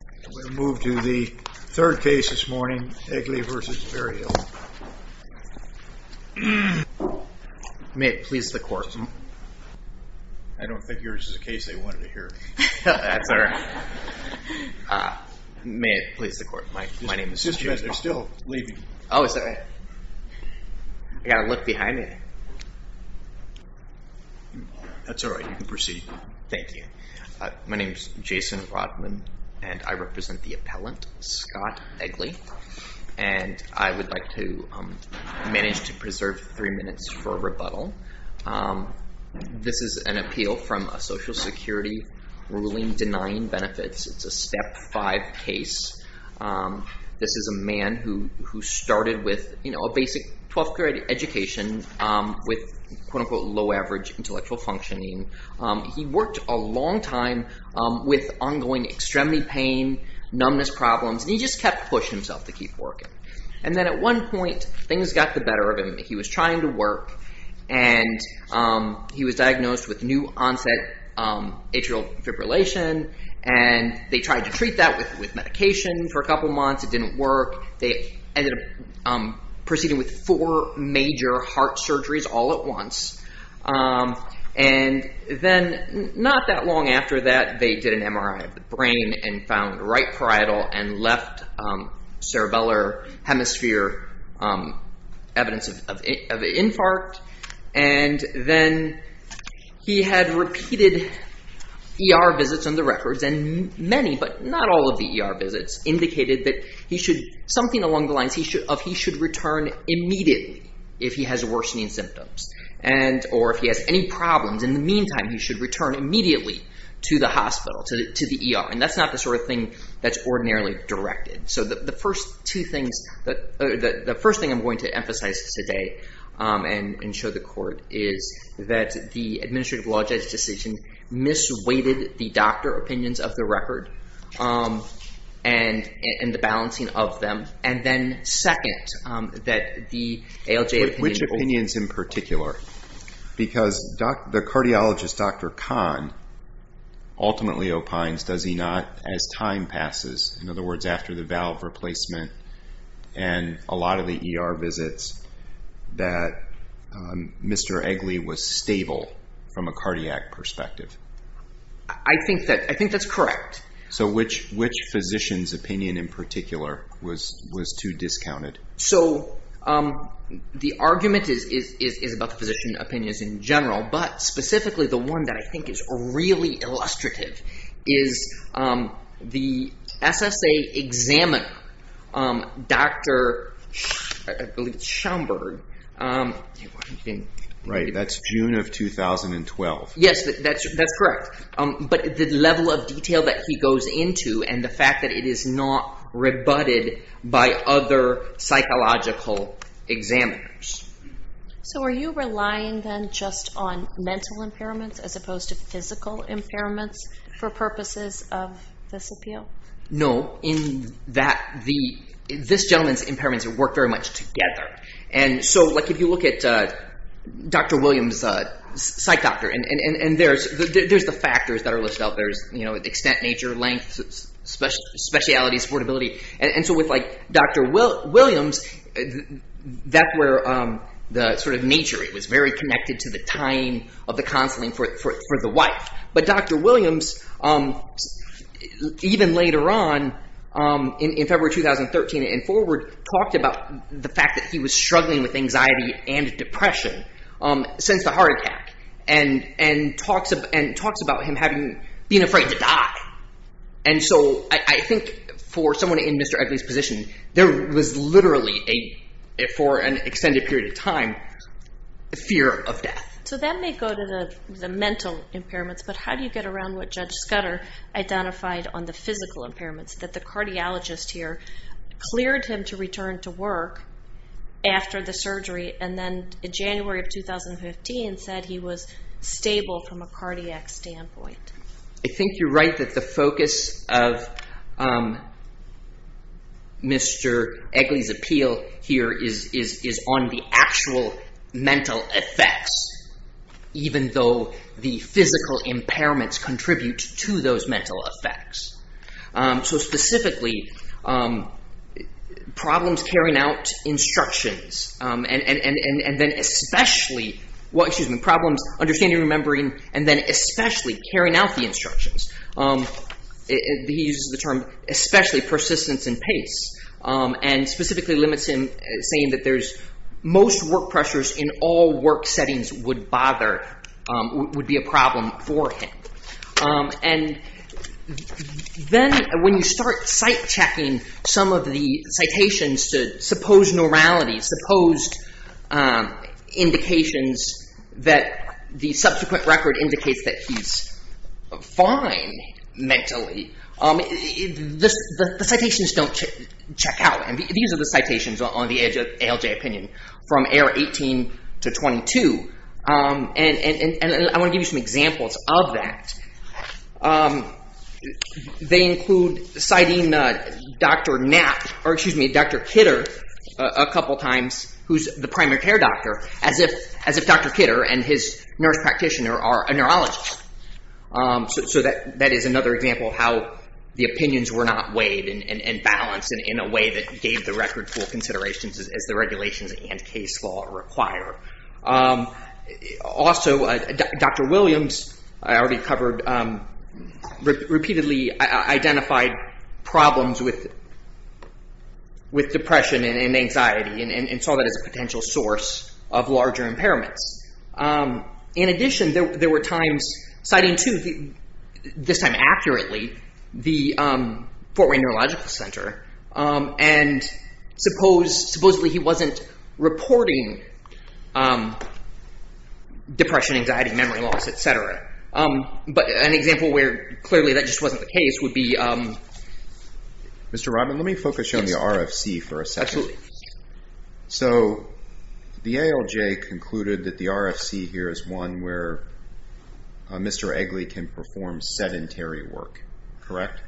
We're going to move to the third case this morning, Egly v. Berryhill. May it please the court. I don't think yours is a case they wanted to hear. That's all right. May it please the court. My name is Jason Rodman. They're still leaving. Oh, is that right? I've got to look behind me. That's all right. You can proceed. Thank you. My name is Jason Rodman, and I represent the appellant, Scott Egly. And I would like to manage to preserve three minutes for a rebuttal. This is an appeal from a Social Security ruling denying benefits. It's a Step 5 case. This is a man who started with a basic 12th-grade education with quote-unquote low-average intellectual functioning. He worked a long time with ongoing extremity pain, numbness problems, and he just kept pushing himself to keep working. And then at one point, things got the better of him. He was trying to work, and he was diagnosed with new-onset atrial fibrillation. And they tried to treat that with medication for a couple months. It didn't work. They ended up proceeding with four major heart surgeries all at once. And then not that long after that, they did an MRI of the brain and found right parietal and left cerebellar hemisphere evidence of an infarct. And then he had repeated ER visits on the records, and many but not all of the ER visits indicated that something along the lines of he should return immediately if he has worsening symptoms. Or if he has any problems, in the meantime, he should return immediately to the hospital, to the ER. And that's not the sort of thing that's ordinarily directed. So the first thing I'm going to emphasize today and show the court is that the administrative law judge decision misweighted the doctor opinions of the record and the balancing of them. And then second, that the ALJ opinion… Which opinions in particular? Because the cardiologist, Dr. Kahn, ultimately opines, does he not, as time passes, in other words, after the valve replacement and a lot of the ER visits, that Mr. Eggly was stable from a cardiac perspective. I think that's correct. So which physician's opinion in particular was too discounted? So the argument is about the physician opinions in general, but specifically the one that I think is really illustrative is the SSA examiner, Dr. Schaumburg. Right, that's June of 2012. Yes, that's correct. But the level of detail that he goes into and the fact that it is not rebutted by other psychological examiners. So are you relying then just on mental impairments as opposed to physical impairments for purposes of this appeal? No, in that this gentleman's impairments work very much together. And so if you look at Dr. Williams, psych doctor, and there's the factors that are listed out. There's extent, nature, length, speciality, supportability. And so with Dr. Williams, that's where the sort of nature, it was very connected to the time of the counseling for the wife. But Dr. Williams, even later on in February 2013 and forward, talked about the fact that he was struggling with anxiety and depression since the heart attack. And talks about him being afraid to die. And so I think for someone in Mr. Egley's position, there was literally for an extended period of time, fear of death. So that may go to the mental impairments. But how do you get around what Judge Scudder identified on the physical impairments? That the cardiologist here cleared him to return to work after the surgery. And then in January of 2015 said he was stable from a cardiac standpoint. I think you're right that the focus of Mr. Egley's appeal here is on the actual mental effects. Even though the physical impairments contribute to those mental effects. So specifically, problems carrying out instructions. And then especially, problems understanding and remembering. And then especially carrying out the instructions. He uses the term especially persistence and pace. And specifically limits him saying that most work pressures in all work settings would bother, would be a problem for him. And then when you start sight checking some of the citations to supposed normality, supposed indications that the subsequent record indicates that he's fine mentally. The citations don't check out. And these are the citations on the ALJ opinion from error 18 to 22. And I want to give you some examples of that. They include citing Dr. Kitter a couple times, who's the primary care doctor, as if Dr. Kitter and his nurse practitioner are a neurologist. So that is another example of how the opinions were not weighed and balanced in a way that gave the record full considerations as the regulations and case law require. Also, Dr. Williams, I already covered, repeatedly identified problems with depression and anxiety and saw that as a potential source of larger impairments. In addition, there were times citing too, this time accurately, the Fort Wayne Neurological Center. And supposedly he wasn't reporting depression, anxiety, memory loss, et cetera. But an example where clearly that just wasn't the case would be… Mr. Rodman, let me focus you on the RFC for a second. Absolutely. So the ALJ concluded that the RFC here is one where Mr. Eggly can perform sedentary work, correct?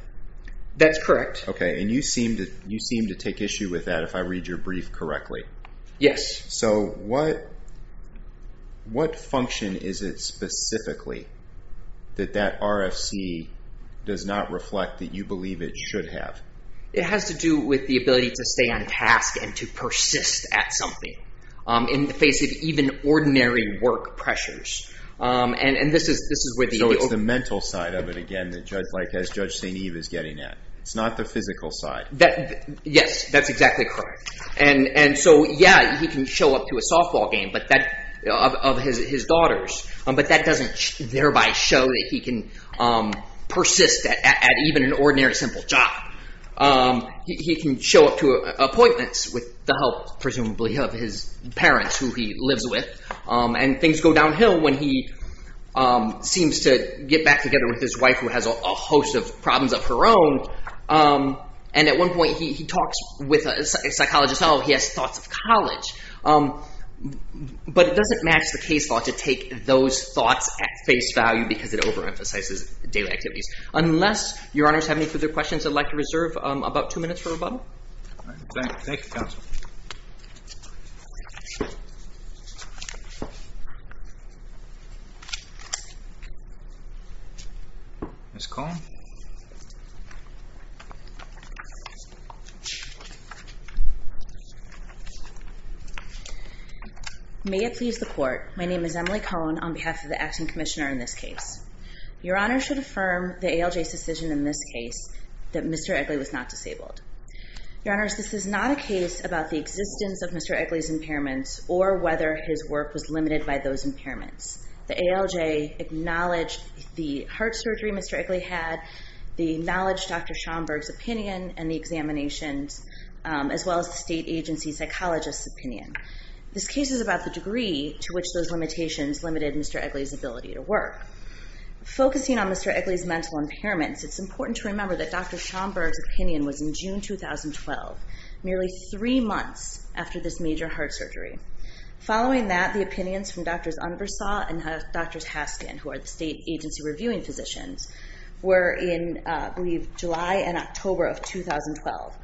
That's correct. Okay. And you seem to take issue with that if I read your brief correctly. Yes. So what function is it specifically that that RFC does not reflect that you believe it should have? It has to do with the ability to stay on task and to persist at something in the face of even ordinary work pressures. And this is where the… …as Judge St. Eve is getting at. It's not the physical side. Yes, that's exactly correct. And so, yeah, he can show up to a softball game of his daughter's, but that doesn't thereby show that he can persist at even an ordinary simple job. He can show up to appointments with the help, presumably, of his parents who he lives with. And things go downhill when he seems to get back together with his wife who has a host of problems of her own. And at one point, he talks with a psychologist. Oh, he has thoughts of college. But it doesn't match the case law to take those thoughts at face value because it overemphasizes daily activities. Unless your honors have any further questions, I'd like to reserve about two minutes for rebuttal. Thank you, counsel. Ms. Cohn? May it please the court, my name is Emily Cohn on behalf of the Acting Commissioner in this case. Your honors should affirm the ALJ's decision in this case that Mr. Egley was not disabled. Your honors, this is not a case about the existence of Mr. Egley's impairments or whether his work was limited by those impairments. The ALJ acknowledged the heart surgery Mr. Egley had, the knowledge Dr. Schomburg's opinion and the examinations, as well as the state agency psychologist's opinion. This case is about the degree to which those limitations limited Mr. Egley's ability to work. Focusing on Mr. Egley's mental impairments, it's important to remember that Dr. Schomburg's opinion was in June 2012, nearly three months after this major heart surgery. Following that, the opinions from Drs. Unversaw and Drs. Haskin, who are the state agency reviewing physicians, were in, I believe, July and October of 2012.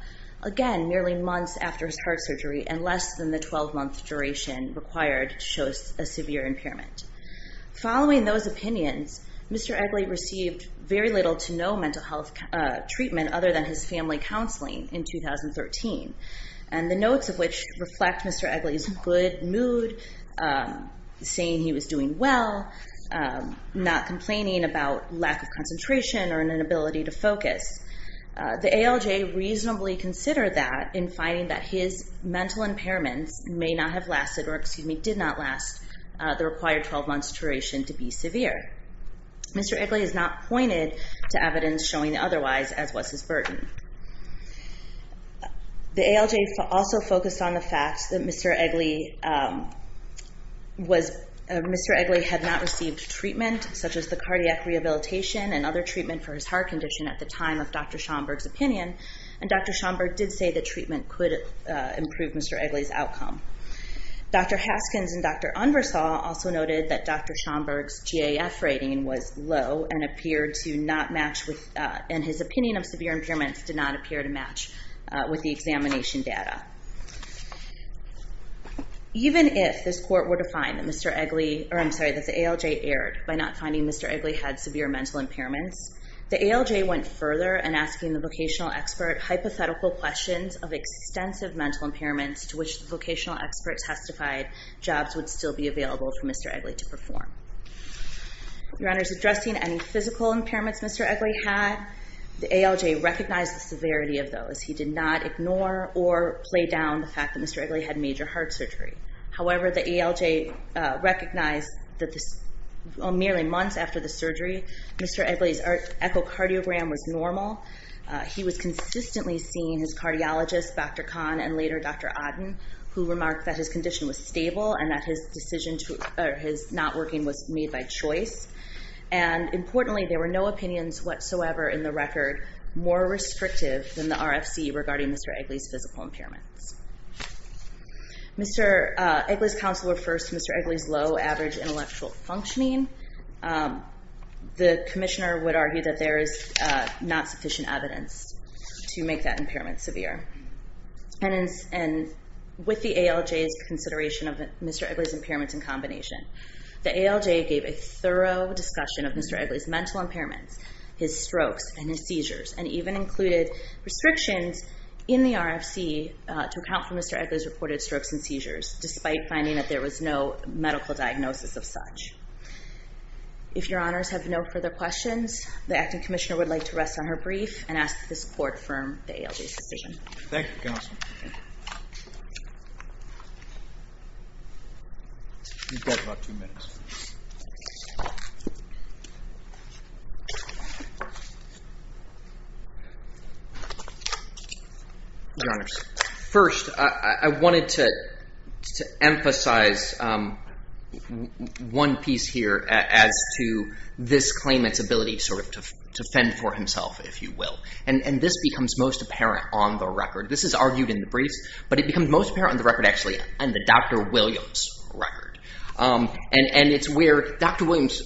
Again, nearly months after his heart surgery and less than the 12-month duration required to show a severe impairment. Following those opinions, Mr. Egley received very little to no mental health treatment other than his family counseling in 2013, and the notes of which reflect Mr. Egley's good mood, saying he was doing well, not complaining about lack of concentration or inability to focus. The ALJ reasonably considered that in finding that his mental impairments may not have lasted, or excuse me, did not last the required 12-month duration to be severe. Mr. Egley has not pointed to evidence showing otherwise as was his burden. The ALJ also focused on the fact that Mr. Egley had not received treatment such as the cardiac rehabilitation and other treatment for his heart condition at the time of Dr. Schomburg's opinion, and Dr. Schomburg did say that treatment could improve Mr. Egley's outcome. Dr. Haskins and Dr. Unversall also noted that Dr. Schomburg's GAF rating was low and appeared to not match with, and his opinion of severe impairments did not appear to match with the examination data. Even if this court were to find that Mr. Egley, or I'm sorry, that the ALJ erred by not finding Mr. Egley had severe mental impairments, the ALJ went further in asking the vocational expert hypothetical questions of extensive mental impairments to which the vocational expert testified jobs would still be available for Mr. Egley to perform. Your Honor, in addressing any physical impairments Mr. Egley had, the ALJ recognized the severity of those. He did not ignore or play down the fact that Mr. Egley had major heart surgery. However, the ALJ recognized that merely months after the surgery, Mr. Egley's echocardiogram was normal. He was consistently seeing his cardiologist, Dr. Kahn, and later Dr. Odden, who remarked that his condition was stable and that his decision to, or his not working was made by choice. And importantly, there were no opinions whatsoever in the record more restrictive than the RFC regarding Mr. Egley's physical impairments. Mr. Egley's counsel refers to Mr. Egley's low average intellectual functioning. The commissioner would argue that there is not sufficient evidence to make that impairment severe. And with the ALJ's consideration of Mr. Egley's impairments in combination, the ALJ gave a thorough discussion of Mr. Egley's mental impairments, his strokes, and his seizures, and even included restrictions in the RFC to account for Mr. Egley's reported strokes and seizures, despite finding that there was no medical diagnosis of such. If your honors have no further questions, the acting commissioner would like to rest on her brief and ask that this court affirm the ALJ's decision. Thank you, counsel. You've got about two minutes. Your honors, first, I wanted to emphasize one piece here as to this claimant's ability to fend for himself, if you will. And this becomes most apparent on the record. This is argued in the briefs, but it becomes most apparent on the record, actually, in the Dr. Williams record. And it's where Dr. Williams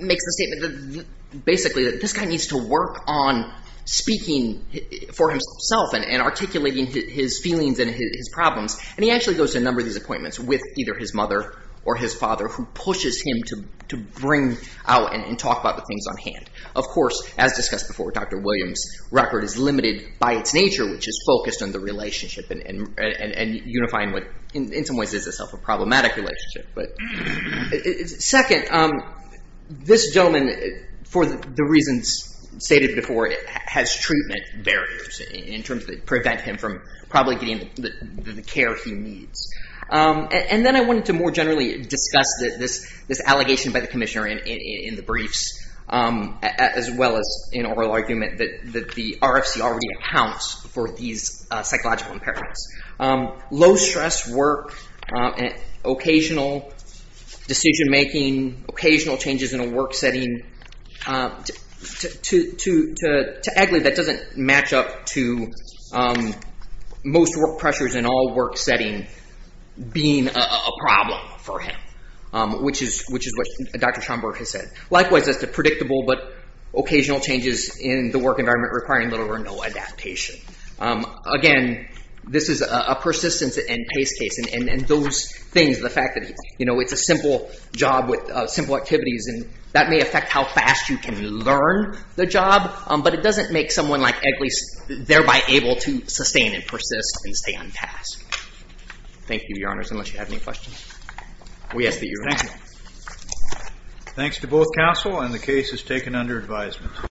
makes the statement that basically this guy needs to work on speaking for himself and articulating his feelings and his problems. And he actually goes to a number of these appointments with either his mother or his father, who pushes him to bring out and talk about the things on hand. Of course, as discussed before, Dr. Williams' record is limited by its nature, which is focused on the relationship and unifying what in some ways is itself a problematic relationship. But second, this gentleman, for the reasons stated before, has treatment barriers in terms that prevent him from probably getting the care he needs. And then I wanted to more generally discuss this allegation by the commissioner in the briefs, as well as an oral argument that the RFC already accounts for these psychological impairments. Low-stress work, occasional decision-making, occasional changes in a work setting, to a degree that doesn't match up to most work pressures in all work setting being a problem for him, which is what Dr. Schomburg has said. Likewise, as to predictable but occasional changes in the work environment requiring little or no adaptation. Again, this is a persistence and pace case. And those things, the fact that it's a simple job with simple activities, that may affect how fast you can learn the job. But it doesn't make someone like Eggly thereby able to sustain and persist and stay on task. Thank you, Your Honors, unless you have any questions. We ask that you remain silent. Thanks to both counsel, and the case is taken under advisement.